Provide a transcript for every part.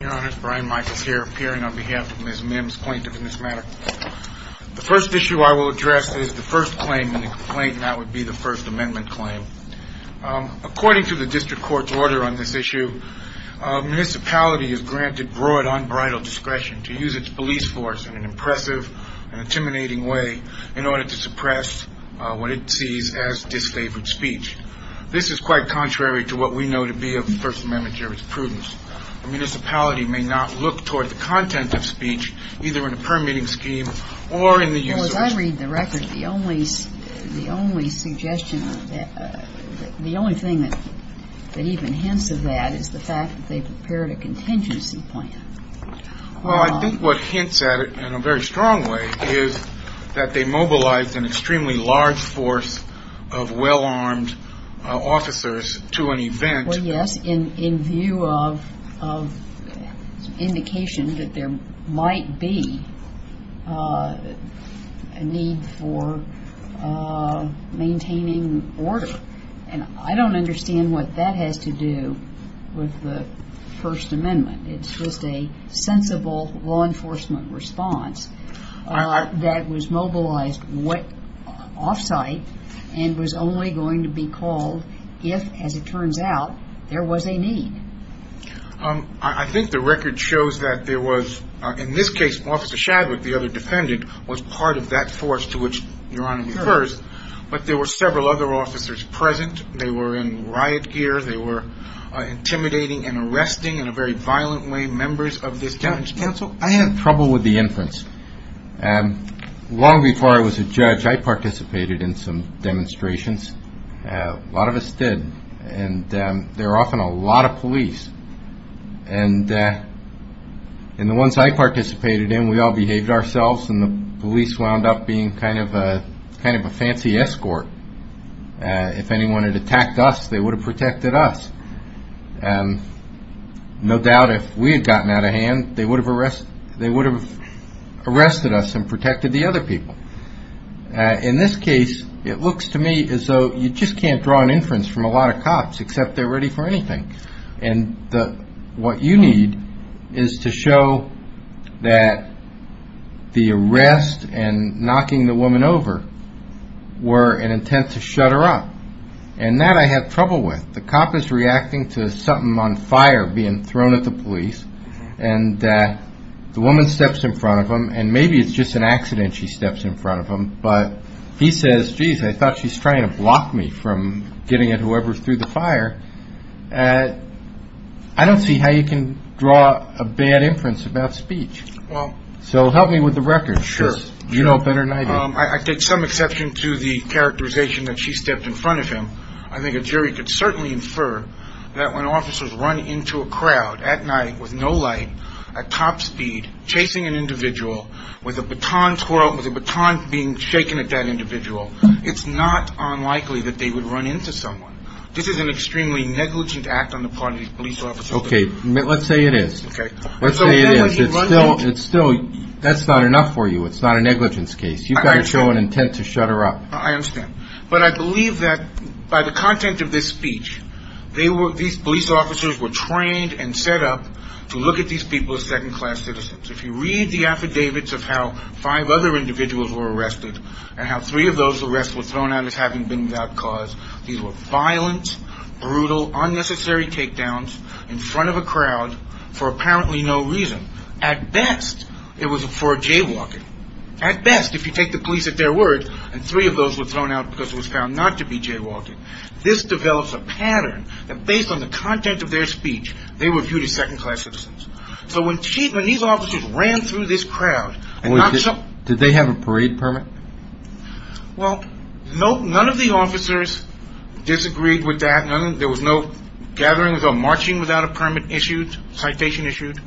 Your Honor, Brian Michaels here, appearing on behalf of Ms. Mims, plaintiff in this matter. The first issue I will address is the first claim in the complaint, and that would be the First Amendment claim. According to the District Court's order on this issue, a municipality is granted broad, unbridled discretion to use its police force in an impressive and intimidating way in order to suppress what it sees as disfavored speech. This is quite contrary to what we know to be of the First Amendment jurisdiction's prudence. A municipality may not look toward the content of speech, either in a permitting scheme or in the use of force. Well, as I read the record, the only suggestion, the only thing that even hints of that is the fact that they prepared a contingency plan. Well, I think what hints at it in a very strong way is that they mobilized an extremely large force of well-armed officers to an event. Well, yes, in view of indication that there might be a need for maintaining order. And I don't understand what that has to do with the First Amendment. It's just a sensible law enforcement response that was mobilized off-site and was only going to be called if, as it turns out, there was a need. I think the record shows that there was, in this case, Officer Shadwick, the other defendant, was part of that force to which Your Honor refers. But there were several other officers present. They were in riot gear. They were intimidating and arresting in a very violent way members of this council. I had trouble with the inference. Long before I was a judge, I participated in some demonstrations. A lot of us did. And there were often a lot of police. And the ones I participated in, we all behaved ourselves, and the police wound up being kind of a fancy escort. If anyone had attacked us, they would have protected us. No doubt, if we had gotten out of hand, they would have arrested us and protected the other people. In this case, it looks to me as though you just can't draw an inference from a lot of cops, except they're ready for anything. And what you need is to show that the arrest and knocking the woman over were an intent to shut her up. And that I had trouble with. The cop is reacting to something on fire being thrown at the police. And the woman steps in front of him. And maybe it's just an accident she steps in front of him. But he says, geez, I thought she's trying to block me from getting at whoever threw the fire. I don't see how you can draw a bad inference about speech. Well, so help me with the record. Sure. You know better than I do. I take some exception to the characterization that she stepped in front of him. I think a jury could certainly infer that when officers run into a crowd at night with no light, at top speed, chasing an individual with a baton twirl, with a baton being shaken at that individual, it's not unlikely that they would run into someone. This is an extremely negligent act on the part of these police officers. OK, let's say it is. OK. Let's say it is. It's still. That's not enough for you. It's not a negligence case. You've got to show an intent to shut her up. I understand. But I believe that by the content of this speech, these police officers were trained and set up to look at these people as second-class citizens. If you read the affidavits of how five other individuals were arrested and how three of those arrests were thrown out as having been without cause, these were violent, brutal, unnecessary takedowns in front of a crowd for apparently no reason. At best, it was for a jaywalking. At best, if you take the police at their word, and three of those were thrown out because it was found not to be jaywalking, this develops a pattern that based on the content of their speech, they were viewed as second-class citizens. So when these officers ran through this crowd, and not some… Wait. Did they have a parade permit? Well, none of the officers disagreed with that. There was no gathering without marching without a permit issued, citation issued.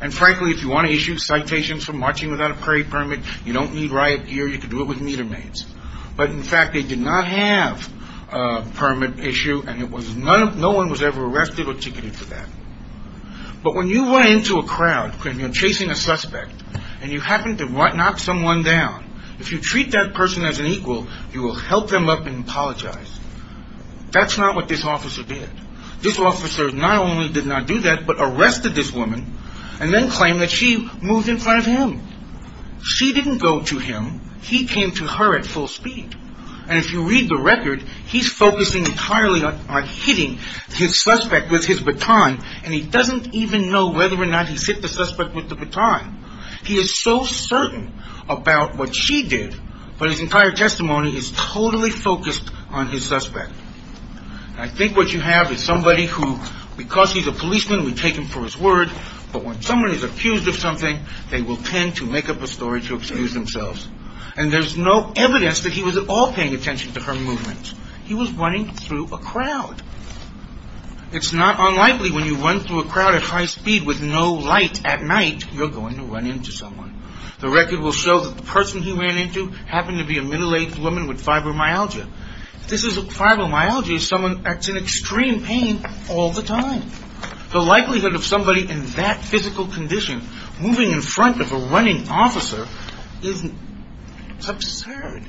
And frankly, if you want to issue citations for marching without a parade permit, you don't need riot gear. You can do it with meter maids. But, in fact, they did not have a permit issue, and no one was ever arrested or ticketed for that. But when you run into a crowd when you're chasing a suspect, and you happen to knock someone down, if you treat that person as an equal, you will help them up and apologize. That's not what this officer did. This officer not only did not do that, but arrested this woman, and then claimed that she moved in front of him. She didn't go to him. He came to her at full speed. And if you read the record, he's focusing entirely on hitting his suspect with his baton, and he doesn't even know whether or not he hit the suspect with the baton. He is so certain about what she did, but his entire testimony is totally focused on his suspect. I think what you have is somebody who, because he's a policeman, would take him for his word, but when someone is accused of something, they will tend to make up a story to excuse themselves. And there's no evidence that he was at all paying attention to her movements. He was running through a crowd. It's not unlikely when you run through a crowd at high speed with no light at night you're going to run into someone. The record will show that the person he ran into happened to be a middle-aged woman with fibromyalgia. If this is fibromyalgia, it's someone that's in extreme pain all the time. The likelihood of somebody in that physical condition moving in front of a running officer is absurd.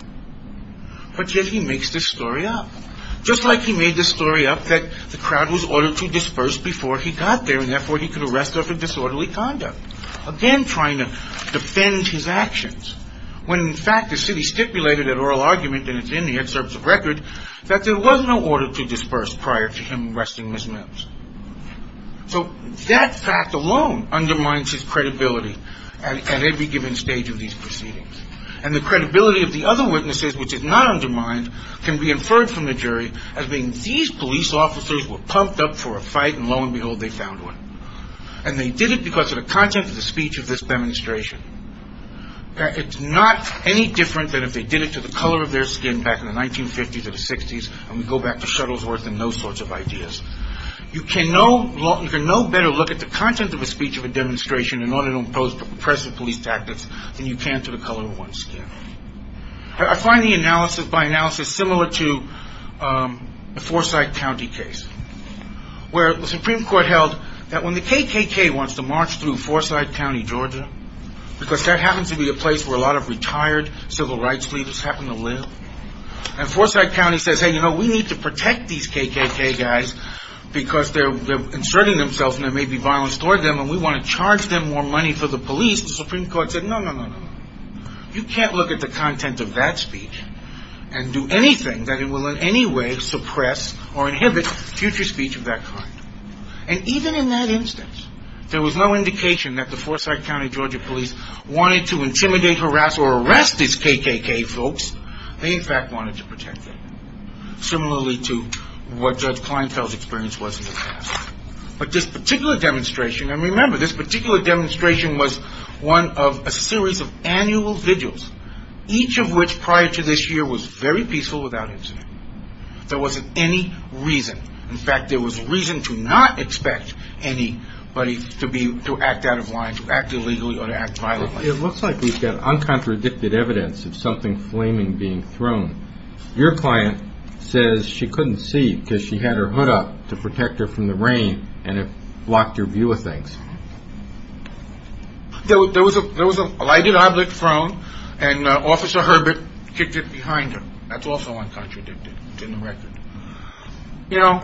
But yet he makes this story up. Just like he made this story up that the crowd was ordered to disperse before he got there, and therefore he could arrest her for disorderly conduct, again trying to defend his actions. When, in fact, the city stipulated an oral argument, and it's in the excerpts of record, that there was no order to disperse prior to him arresting Ms. Mills. So that fact alone undermines his credibility at every given stage of these proceedings. And the credibility of the other witnesses, which is not undermined, can be inferred from the jury as being these police officers were pumped up for a fight, and lo and behold, they found one. And they did it because of the content of the speech of this demonstration. It's not any different than if they did it to the color of their skin back in the 1950s or the 60s, and we go back to Shuttlesworth and those sorts of ideas. You can no better look at the content of a speech of a demonstration in order to impose oppressive police tactics than you can to the color of one's skin. I find the analysis by analysis similar to the Forsyth County case, where the Supreme Court held that when the KKK wants to march through Forsyth County, Georgia, because that happens to be a place where a lot of retired civil rights leaders happen to live, and Forsyth County says, hey, you know, we need to protect these KKK guys because they're inserting themselves and there may be violence toward them, and we want to charge them more money for the police, the Supreme Court said, no, no, no, no. You can't look at the content of that speech and do anything that it will in any way suppress or inhibit future speech of that kind. And even in that instance, there was no indication that the Forsyth County, Georgia police wanted to intimidate, harass, or arrest these KKK folks. They, in fact, wanted to protect them, similarly to what Judge Kleinfeld's experience was in the past. But this particular demonstration, and remember, this particular demonstration was one of a series of annual vigils, each of which prior to this year was very peaceful without incident. There wasn't any reason. In fact, there was reason to not expect anybody to act out of line, to act illegally, or to act violently. It looks like we've got uncontradicted evidence of something flaming being thrown. Your client says she couldn't see because she had her hood up to protect her from the rain, and it blocked her view of things. There was a lighted object thrown, and Officer Herbert kicked it behind her. That's also uncontradicted. It's in the record. You know,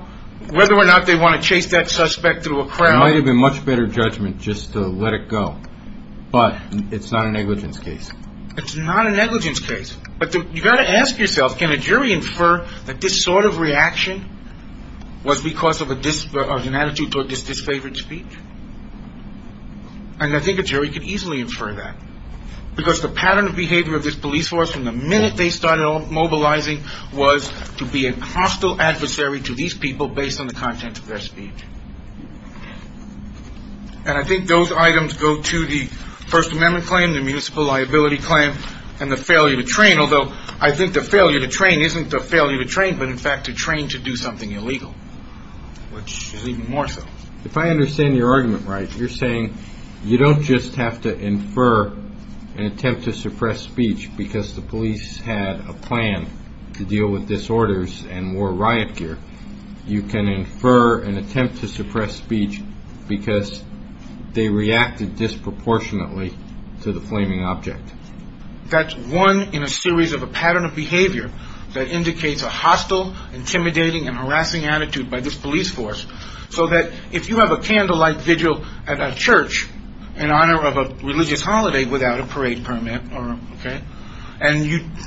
whether or not they want to chase that suspect through a crowd... It might have been a much better judgment just to let it go, but it's not a negligence case. It's not a negligence case. But you've got to ask yourself, can a jury infer that this sort of reaction was because of an attitude toward this disfavored speech? And I think a jury could easily infer that, because the pattern of behavior of this police force from the minute they started mobilizing was to be a hostile adversary to these people based on the content of their speech. And I think those items go to the First Amendment claim, the municipal liability claim, and the failure to train, although I think the failure to train isn't the failure to train, but in fact to train to do something illegal, which is even more so. If I understand your argument right, you're saying you don't just have to infer an attempt to suppress speech because the police had a plan to deal with disorders and wore riot gear. You can infer an attempt to suppress speech because they reacted disproportionately to the flaming object. That's one in a series of a pattern of behavior that indicates a hostile, intimidating, and harassing attitude by this police force so that if you have a candlelight vigil at a church in honor of a religious holiday without a parade permit, and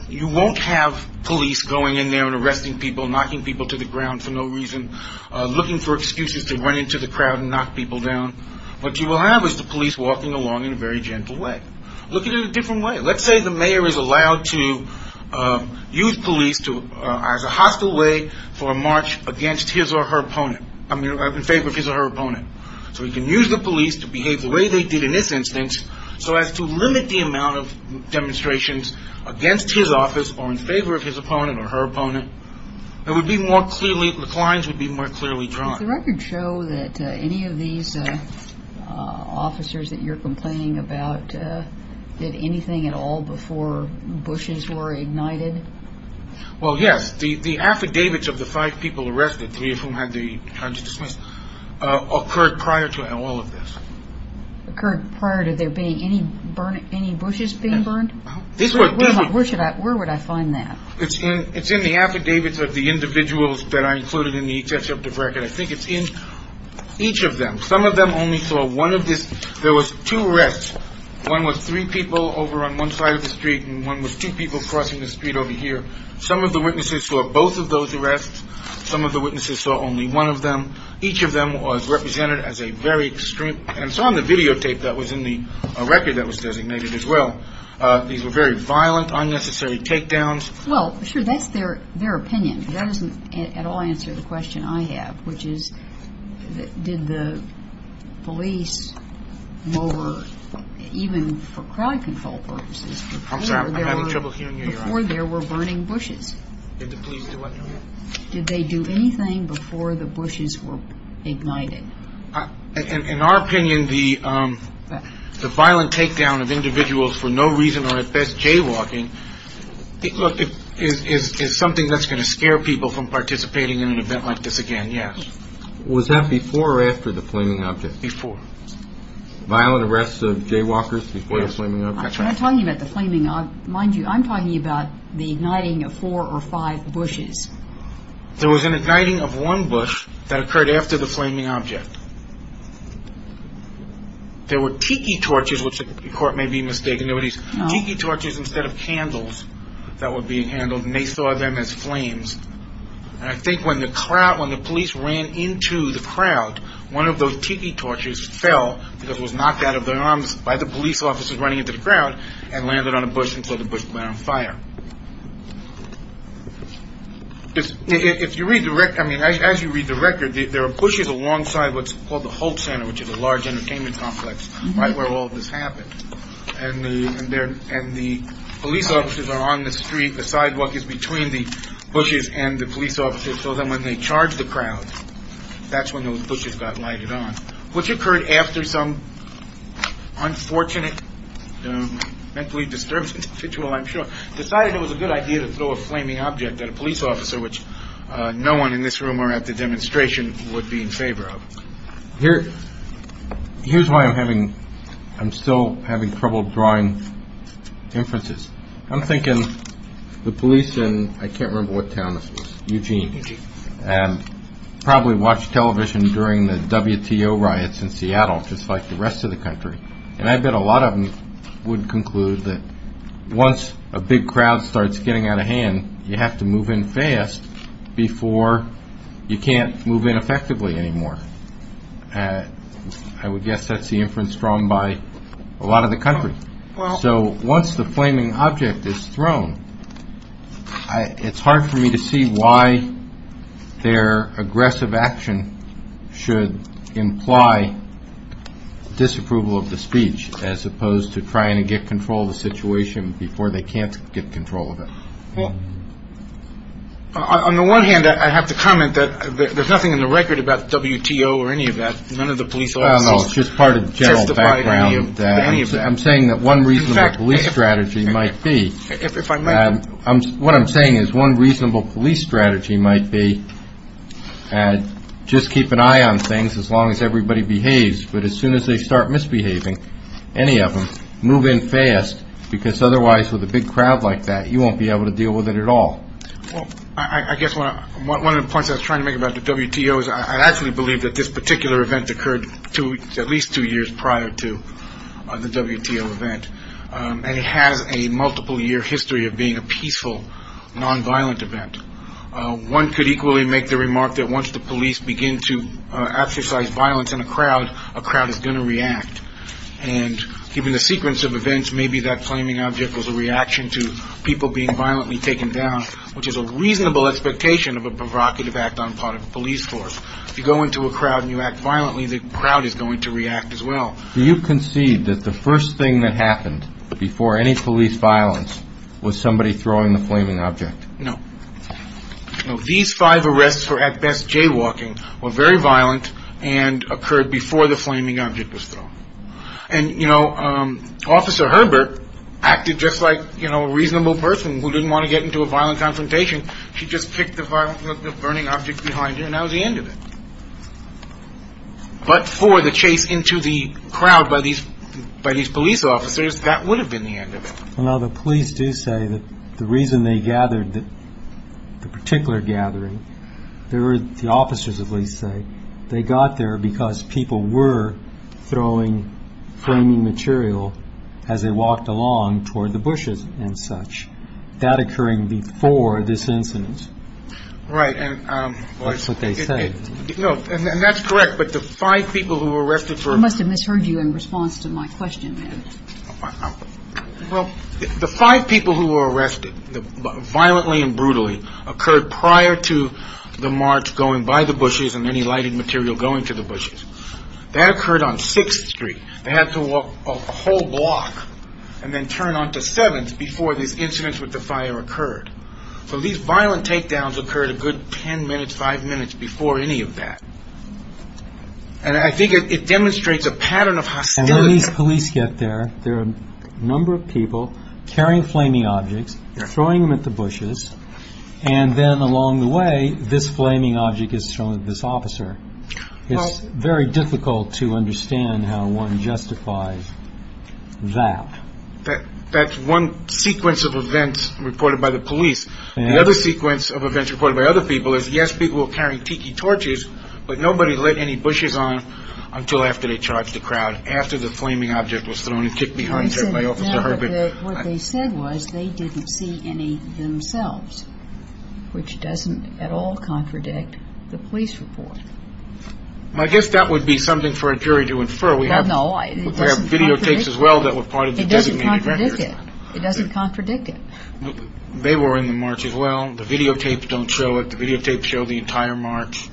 you won't have police going in there and arresting people, knocking people to the ground for no reason, looking for excuses to run into the crowd and knock people down. What you will have is the police walking along in a very gentle way, looking at it a different way. Let's say the mayor is allowed to use police as a hostile way for a march against his or her opponent, I mean in favor of his or her opponent. So he can use the police to behave the way they did in this instance so as to limit the amount of demonstrations against his office or in favor of his opponent or her opponent. It would be more clearly, the clients would be more clearly drawn. Does the record show that any of these officers that you're complaining about did anything at all before bushes were ignited? Well, yes. The affidavits of the five people arrested, three of whom had their charges dismissed, occurred prior to all of this. Occurred prior to there being any bushes being burned? Yes. Where would I find that? It's in the affidavits of the individuals that are included in the executive record. I think it's in each of them. Some of them only saw one of this. There was two arrests. One with three people over on one side of the street and one with two people crossing the street over here. Some of the witnesses saw both of those arrests. Some of the witnesses saw only one of them. Each of them was represented as a very extreme. And it's on the videotape that was in the record that was designated as well. These were very violent, unnecessary takedowns. Well, sure, that's their opinion. That doesn't at all answer the question I have, which is did the police lower, even for crowd control purposes, before there were burning bushes? Did the police do anything? Did they do anything before the bushes were ignited? In our opinion, the violent takedown of individuals for no reason or at best jaywalking is something that's going to scare people from participating in an event like this again, yes. Was that before or after the flaming object? Before. Violent arrests of jaywalkers before the flaming object? When I'm talking about the flaming object, mind you, I'm talking about the igniting of four or five bushes. There was an igniting of one bush that occurred after the flaming object. There were tiki torches, which the court may be mistaken. Tiki torches instead of candles that were being handled, and they saw them as flames. And I think when the crowd, when the police ran into the crowd, one of those tiki torches fell because it was knocked out of their arms by the police officers running into the crowd and landed on a bush and set the bush on fire. If you read the record, I mean, as you read the record, there are bushes alongside what's called the Holt Center, which is a large entertainment complex right where all this happened. And the police officers are on the street. The sidewalk is between the bushes and the police officers. So then when they charge the crowd, that's when those bushes got lighted on. What occurred after some unfortunate mentally disturbed individual, I'm sure, decided it was a good idea to throw a flaming object at a police officer, which no one in this room or at the demonstration would be in favor of here. Here's why I'm having I'm still having trouble drawing inferences. I'm thinking the police in, I can't remember what town this was, Eugene, probably watched television during the WTO riots in Seattle, just like the rest of the country. And I bet a lot of them would conclude that once a big crowd starts getting out of hand, you have to move in fast before you can't move in effectively anymore. I would guess that's the inference drawn by a lot of the country. Well, so once the flaming object is thrown, it's hard for me to see why their aggressive action should imply disapproval of the speech as opposed to trying to get control of the situation before they can't get control of it. Well, on the one hand, I have to comment that there's nothing in the record about WTO or any of that. It's just part of the general background. I'm saying that one reasonable police strategy might be if I'm what I'm saying is one reasonable police strategy might be and just keep an eye on things as long as everybody behaves. But as soon as they start misbehaving, any of them move in fast, because otherwise, with a big crowd like that, you won't be able to deal with it at all. Well, I guess one of the points I was trying to make about the WTO is I actually believe that this particular event occurred to at least two years prior to the WTO event. And it has a multiple year history of being a peaceful, nonviolent event. One could equally make the remark that once the police begin to exercise violence in a crowd, a crowd is going to react. And given the sequence of events, maybe that flaming object was a reaction to people being violently taken down, which is a reasonable expectation of a provocative act on part of a police force. If you go into a crowd and you act violently, the crowd is going to react as well. Do you concede that the first thing that happened before any police violence was somebody throwing the flaming object? No. These five arrests were at best jaywalking or very violent and occurred before the flaming object was thrown. And, you know, Officer Herbert acted just like, you know, a reasonable person who didn't want to get into a violent confrontation. She just picked the burning object behind her. Now the end of it. But for the chase into the crowd by these by these police officers, that would have been the end of it. Well, the police do say that the reason they gathered the particular gathering there, the officers at least say they got there because people were throwing flaming material as they walked along toward the bushes and such that occurring before this incident. Right. And that's what they said. No. And that's correct. But the five people who were arrested for. I must have misheard you in response to my question. Well, the five people who were arrested violently and brutally occurred prior to the march going by the bushes and any lighted material going to the bushes that occurred on 6th Street. They had to walk a whole block and then turn on the seventh before this incident with the fire occurred. So these violent takedowns occurred a good 10 minutes, five minutes before any of that. And I think it demonstrates a pattern of hostility. Police get there. There are a number of people carrying flaming objects, throwing them at the bushes. And then along the way, this flaming object is thrown at this officer. It's very difficult to understand how one justifies that. But that's one sequence of events reported by the police. The other sequence of events reported by other people is, yes, people were carrying tiki torches, but nobody lit any bushes on until after they charged the crowd. After the flaming object was thrown and kicked behind. What they said was they didn't see any themselves, which doesn't at all contradict the police report. I guess that would be something for a jury to infer. We have no video takes as well that were part of it doesn't contradict it. They were in the march as well. The videotapes don't show it. The videotapes show the entire march.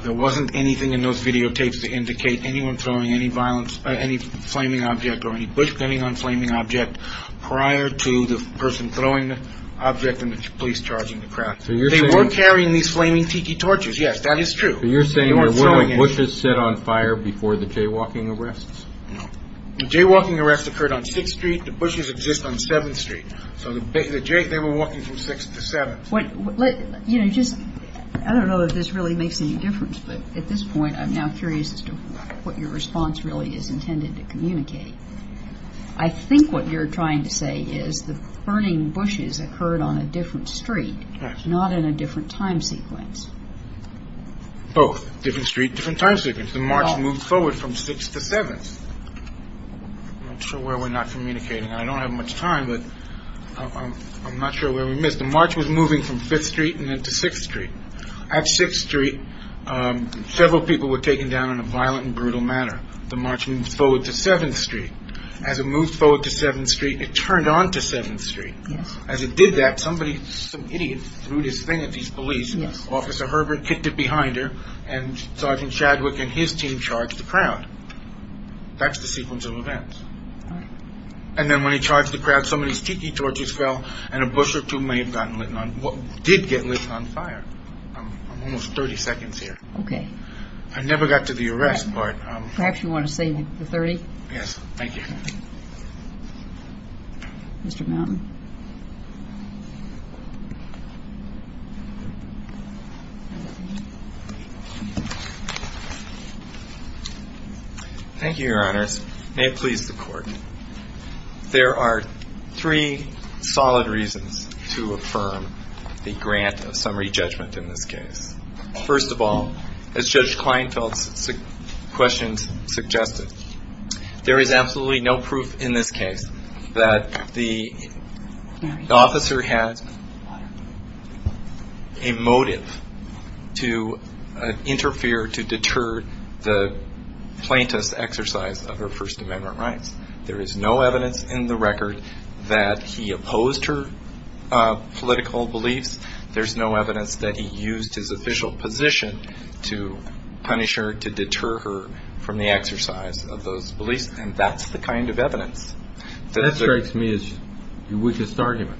There wasn't anything in those videotapes to indicate anyone throwing any violence, any flaming object or any bush burning on flaming object. Prior to the person throwing the object and the police charging the crowd. They were carrying these flaming tiki torches. Yes, that is true. You're saying there were bushes set on fire before the jaywalking arrests. The jaywalking arrest occurred on 6th Street. The bushes exist on 7th Street. So the jay, they were walking from 6th to 7th. You know, just I don't know if this really makes any difference. But at this point, I'm now curious as to what your response really is intended to communicate. I think what you're trying to say is the burning bushes occurred on a different street, not in a different time sequence. Both different street, different time sequence. The march moved forward from 6th to 7th. I'm not sure where we're not communicating. I don't have much time, but I'm not sure where we missed. The march was moving from 5th Street and then to 6th Street. At 6th Street, several people were taken down in a violent and brutal manner. The march moved forward to 7th Street. As it moved forward to 7th Street, it turned on to 7th Street. As it did that, somebody, some idiot threw this thing at these police. Officer Herbert kicked it behind her, and Sergeant Shadwick and his team charged the crowd. That's the sequence of events. And then when he charged the crowd, some of these tiki torches fell, and a bush or two may have gotten lit on, did get lit on fire. I'm almost 30 seconds here. Okay. I never got to the arrest part. Perhaps you want to save the 30? Yes, thank you. Mr. Mountain. Thank you, Your Honors. May it please the Court. There are three solid reasons to affirm the grant of summary judgment in this case. First of all, as Judge Kleinfeld's questions suggested, there is absolutely no proof in this case that the officer had a motive to interfere, to deter the plaintiff's exercise of her First Amendment rights. There is no evidence in the record that he opposed her political beliefs. There's no evidence that he used his official position to punish her, to deter her from the exercise of those beliefs, and that's the kind of evidence. That strikes me as your weakest argument.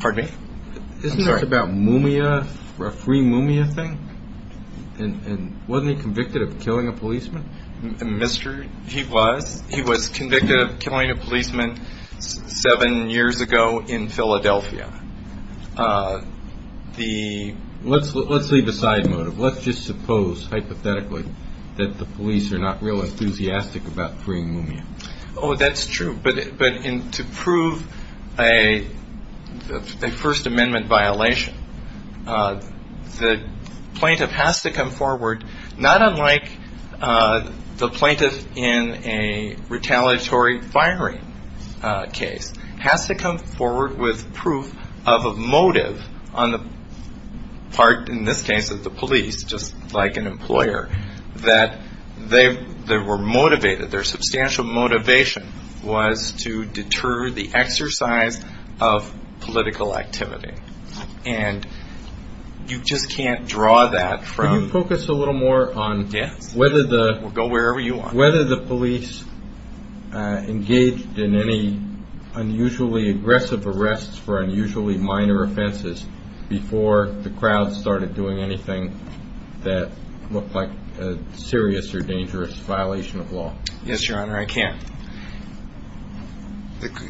Pardon me? I'm sorry. Isn't that about Mumia, a free Mumia thing? And wasn't he convicted of killing a policeman? Mister, he was. He was convicted of killing a policeman seven years ago in Philadelphia. Let's leave aside motive. Let's just suppose, hypothetically, that the police are not real enthusiastic about freeing Mumia. Oh, that's true, but to prove a First Amendment violation, the plaintiff has to come forward, not unlike the plaintiff in a retaliatory firing case, has to come forward with proof of a motive on the part, in this case, of the police, just like an employer, that they were motivated, their substantial motivation was to deter the exercise of political activity. And you just can't draw that from the evidence. Can you focus a little more on whether the police engaged in any unusually aggressive arrests for unusually minor offenses before the crowd started doing anything that looked like a serious or dangerous violation of law? Yes, Your Honor, I can.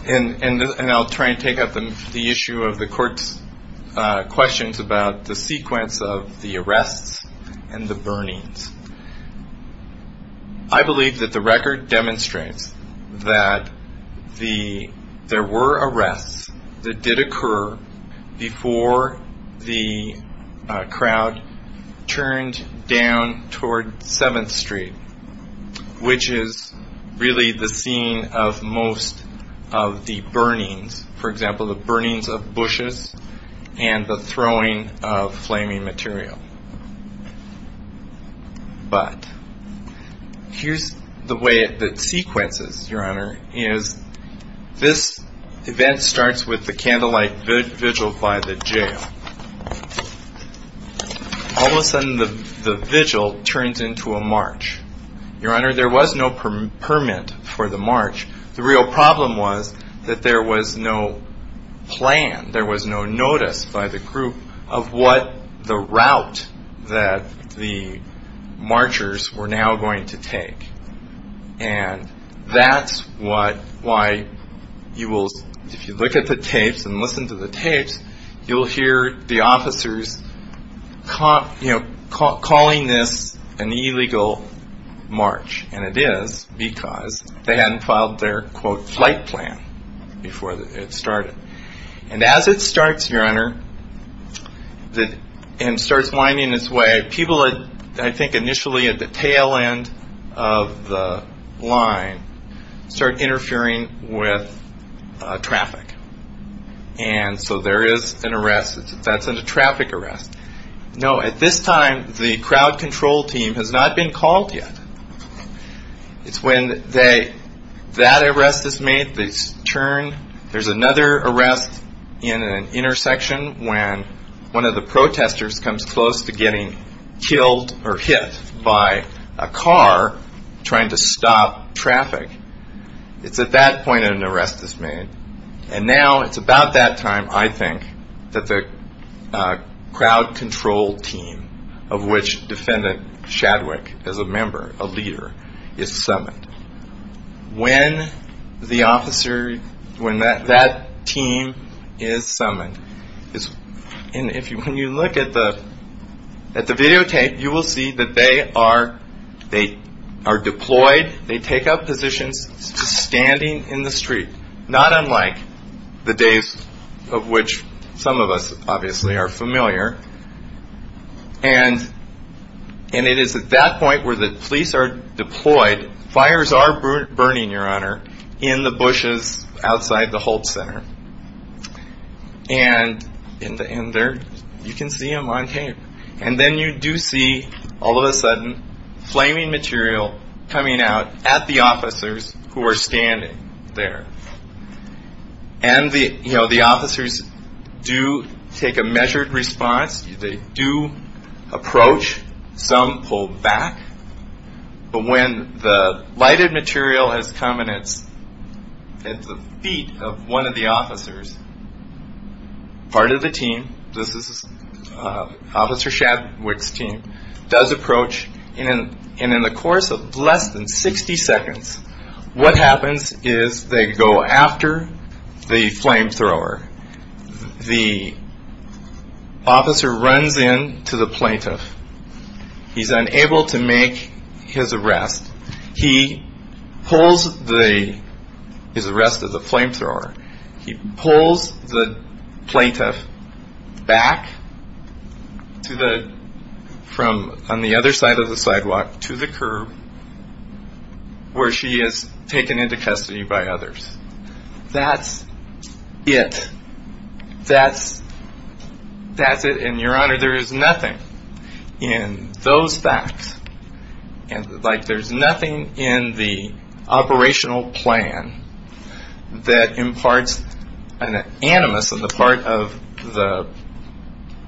And I'll try and take up the issue of the Court's questions about the sequence of the arrests and the burnings. I believe that the record demonstrates that there were arrests that did occur before the crowd turned down toward 7th Street, which is really the scene of most of the burnings, for example, the burnings of bushes and the throwing of flaming material. But here's the way that it sequences, Your Honor, is this event starts with the candlelight vigil by the jail. All of a sudden the vigil turns into a march. Your Honor, there was no permit for the march. The real problem was that there was no plan, there was no notice by the group of what the route that the marchers were now going to take. And that's why if you look at the tapes and listen to the tapes, you'll hear the officers calling this an illegal march. And it is because they hadn't filed their, quote, flight plan before it started. And as it starts, Your Honor, and starts winding its way, people, I think initially at the tail end of the line, start interfering with traffic. And so there is an arrest. That's a traffic arrest. No, at this time the crowd control team has not been called yet. It's when that arrest is made, they turn. There's another arrest in an intersection when one of the protesters comes close to getting killed or hit by a car trying to stop traffic. It's at that point an arrest is made. And now it's about that time, I think, that the crowd control team, of which defendant Shadwick is a member, a leader, is summoned. When the officer, when that team is summoned, and when you look at the videotape, you will see that they are deployed, they take up positions just standing in the street, not unlike the days of which some of us obviously are familiar. And it is at that point where the police are deployed. Fires are burning, Your Honor, in the bushes outside the Holt Center. And in there, you can see them on tape. And then you do see, all of a sudden, flaming material coming out at the officers who are standing there. And the officers do take a measured response. They do approach. Some pull back. But when the lighted material has come at the feet of one of the officers, part of the team, this is Officer Shadwick's team, does approach. And in the course of less than 60 seconds, what happens is they go after the flamethrower. The officer runs in to the plaintiff. He's unable to make his arrest. He pulls the, his arrest of the flamethrower. He pulls the plaintiff back to the, from on the other side of the sidewalk to the curb where she is taken into custody by others. That's it. That's it. And, Your Honor, there is nothing in those facts, like there's nothing in the operational plan that imparts an animus on the part of the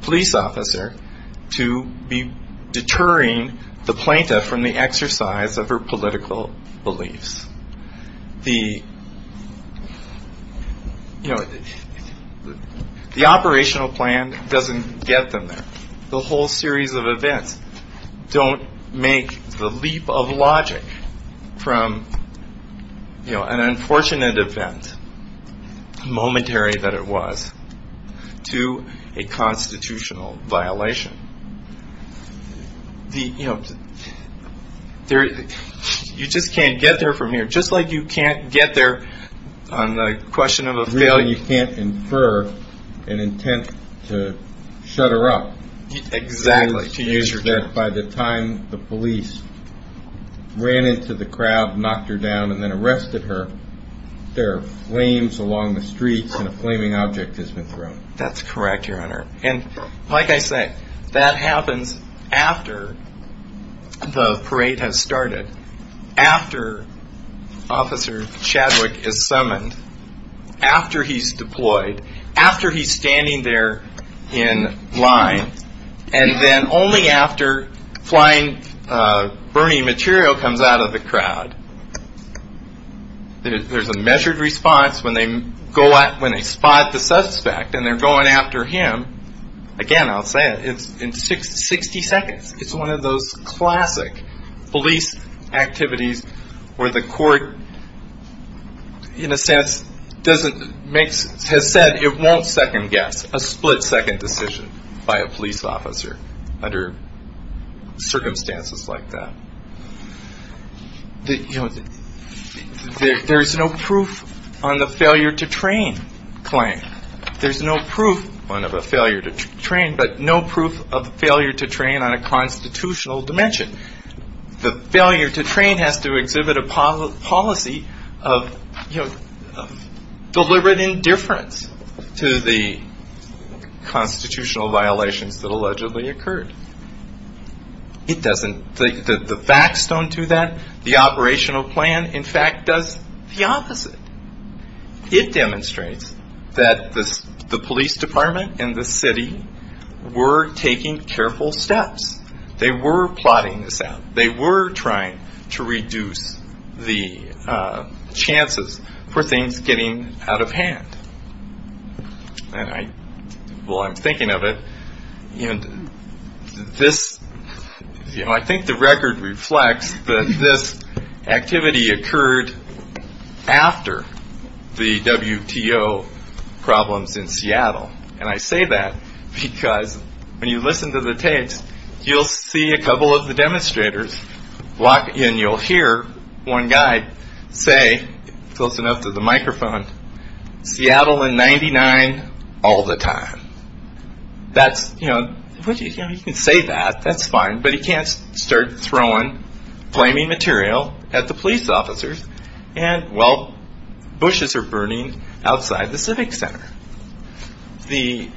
police officer to be deterring the plaintiff from the exercise of her political beliefs. The, you know, the operational plan doesn't get them there. The whole series of events don't make the leap of logic from, you know, an unfortunate event, momentary that it was, to a constitutional violation. The, you know, you just can't get there from here. Just like you can't get there on the question of a failure. And you can't infer an intent to shut her up. Exactly. By the time the police ran into the crowd, knocked her down, and then arrested her, there are flames along the streets and a flaming object has been thrown. That's correct, Your Honor. And like I say, that happens after the parade has started, after Officer Chadwick is summoned, after he's deployed, after he's standing there in line, and then only after flying burning material comes out of the crowd. There's a measured response when they spot the suspect and they're going after him. Again, I'll say it, it's in 60 seconds. It's one of those classic police activities where the court, in a sense, doesn't make, has said it won't second-guess a split-second decision by a police officer under circumstances like that. You know, there's no proof on the failure to train claim. There's no proof, one of a failure to train, but no proof of failure to train on a constitutional dimension. The failure to train has to exhibit a policy of, you know, deliberate indifference to the constitutional violations that allegedly occurred. It doesn't, the backstone to that, the operational plan, in fact, does the opposite. It demonstrates that the police department and the city were taking careful steps. They were plotting this out. They were trying to reduce the chances for things getting out of hand. And I, well, I'm thinking of it, and this, you know, I think the record reflects that this activity occurred after the WTO problems in Seattle. And I say that because when you listen to the tapes, you'll see a couple of the demonstrators walk, and you'll hear one guy say, close enough to the microphone, Seattle in 99 all the time. That's, you know, he can say that, that's fine, but he can't start throwing flaming material at the police officers while bushes are burning outside the civic center. The,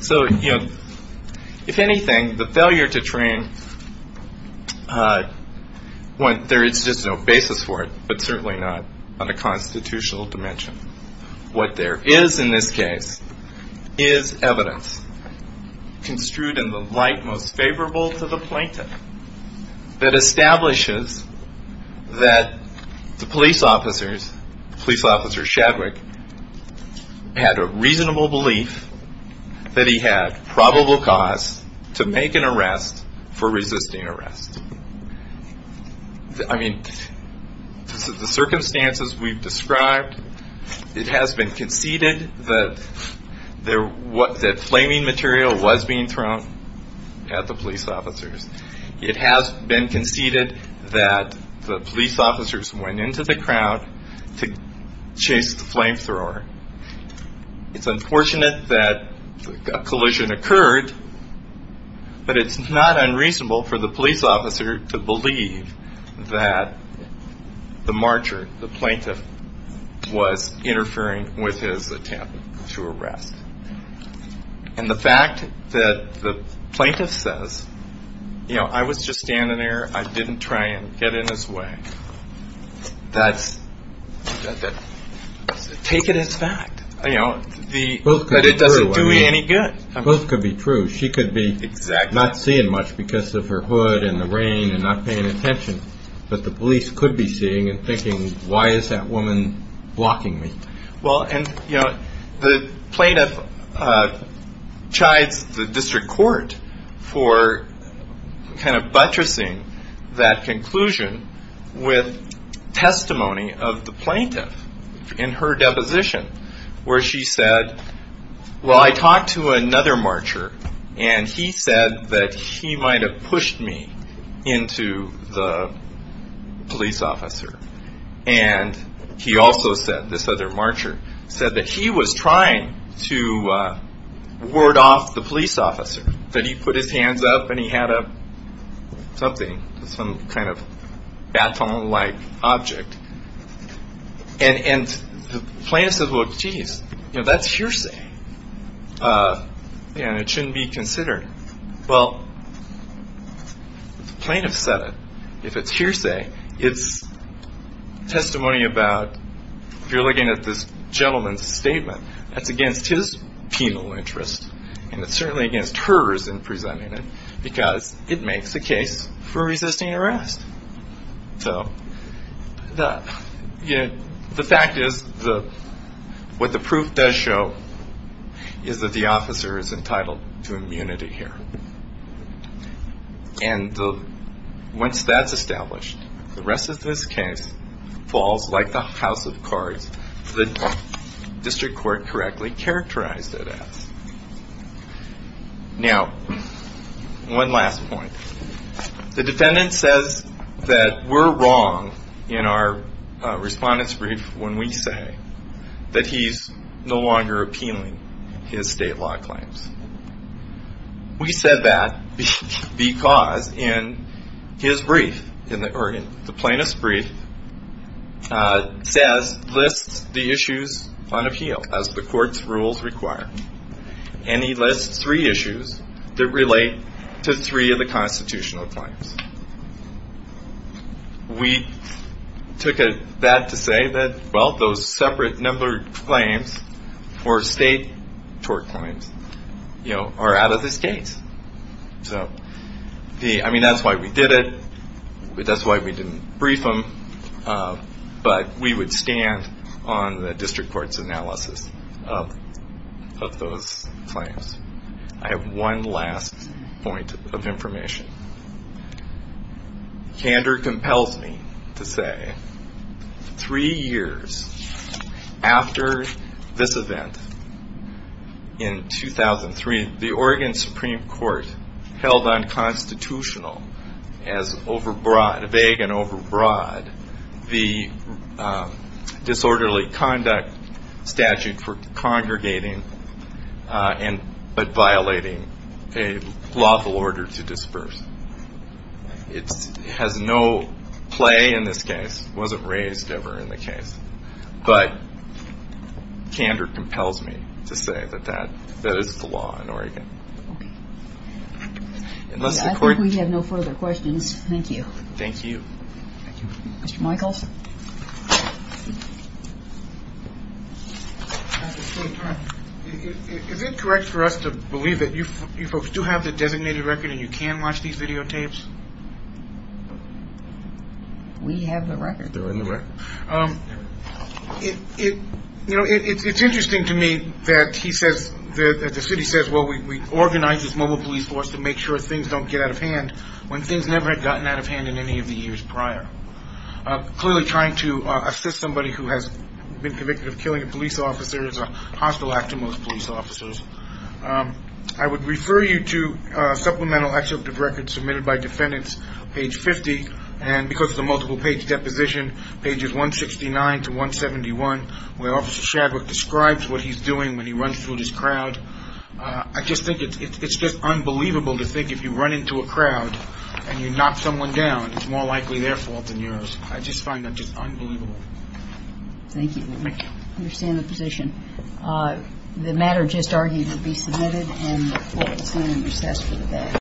so, you know, if anything, the failure to train, there is just no basis for it, but certainly not on a constitutional dimension. What there is in this case is evidence construed in the light most favorable to the plaintiff that establishes that the police officers, police officer Shadwick, had a reasonable belief that he had probable cause to make an arrest for resisting arrest. I mean, the circumstances we've described, it has been conceded that flaming material was being thrown at the police officers. It has been conceded that the police officers went into the crowd to chase the flamethrower. It's unfortunate that a collision occurred, but it's not unreasonable for the police officer to believe that the marcher, the plaintiff, was interfering with his attempt to arrest. And the fact that the plaintiff says, you know, I was just standing there. I didn't try and get in his way. That's, take it as fact, you know, but it doesn't do me any good. Those could be true. She could be not seeing much because of her hood and the rain and not paying attention, but the police could be seeing and thinking, why is that woman blocking me? Well, and, you know, the plaintiff chides the district court for kind of buttressing that conclusion with testimony of the plaintiff in her deposition where she said, well, I talked to another marcher and he said that he might have pushed me into the police officer. And he also said, this other marcher, said that he was trying to ward off the police officer, that he put his hands up and he had a something, some kind of baton-like object. And the plaintiff says, well, geez, you know, that's hearsay and it shouldn't be considered. Well, the plaintiff said it. If it's hearsay, it's testimony about, if you're looking at this gentleman's statement, that's against his penal interest and it's certainly against hers in presenting it because it makes the case for resisting arrest. So, you know, the fact is what the proof does show is that the officer is entitled to immunity here. And once that's established, the rest of this case falls like the house of cards that the district court correctly characterized it as. Now, one last point. The defendant says that we're wrong in our respondent's brief when we say that he's no longer appealing his state law claims. We said that because in his brief, or in the plaintiff's brief, says, lists the issues on appeal as the court's rules require. And he lists three issues that relate to three of the constitutional claims. We took that to say that, well, those separate numbered claims or state tort claims, you know, are out of this case. So, I mean, that's why we did it. That's why we didn't brief him. But we would stand on the district court's analysis of those claims. I have one last point of information. Candor compels me to say three years after this event in 2003, the Oregon Supreme Court held unconstitutional as vague and overbroad the disorderly conduct statute for congregating but violating a lawful order to disperse. It has no play in this case. It wasn't raised ever in the case. But candor compels me to say that that is the law in Oregon. Okay. I think we have no further questions. Thank you. Thank you. Thank you. Mr. Michaels? Is it correct for us to believe that you folks do have the designated record and you can watch these videotapes? We have the record. You know, it's interesting to me that he says that the city says, well, we organize this mobile police force to make sure things don't get out of hand when things never had gotten out of hand in any of the years prior. Clearly trying to assist somebody who has been convicted of killing a police officer is a hostile act to most police officers. I would refer you to supplemental excerpt of records submitted by defendants, page 50, and because of the multiple page deposition, pages 169 to 171, where Officer Shadwick describes what he's doing when he runs through this crowd. I just think it's just unbelievable to think if you run into a crowd and you knock someone down, it's more likely their fault than yours. I just find that just unbelievable. Thank you. I understand the position. The matter just argued will be submitted and will be sent in recess for debate.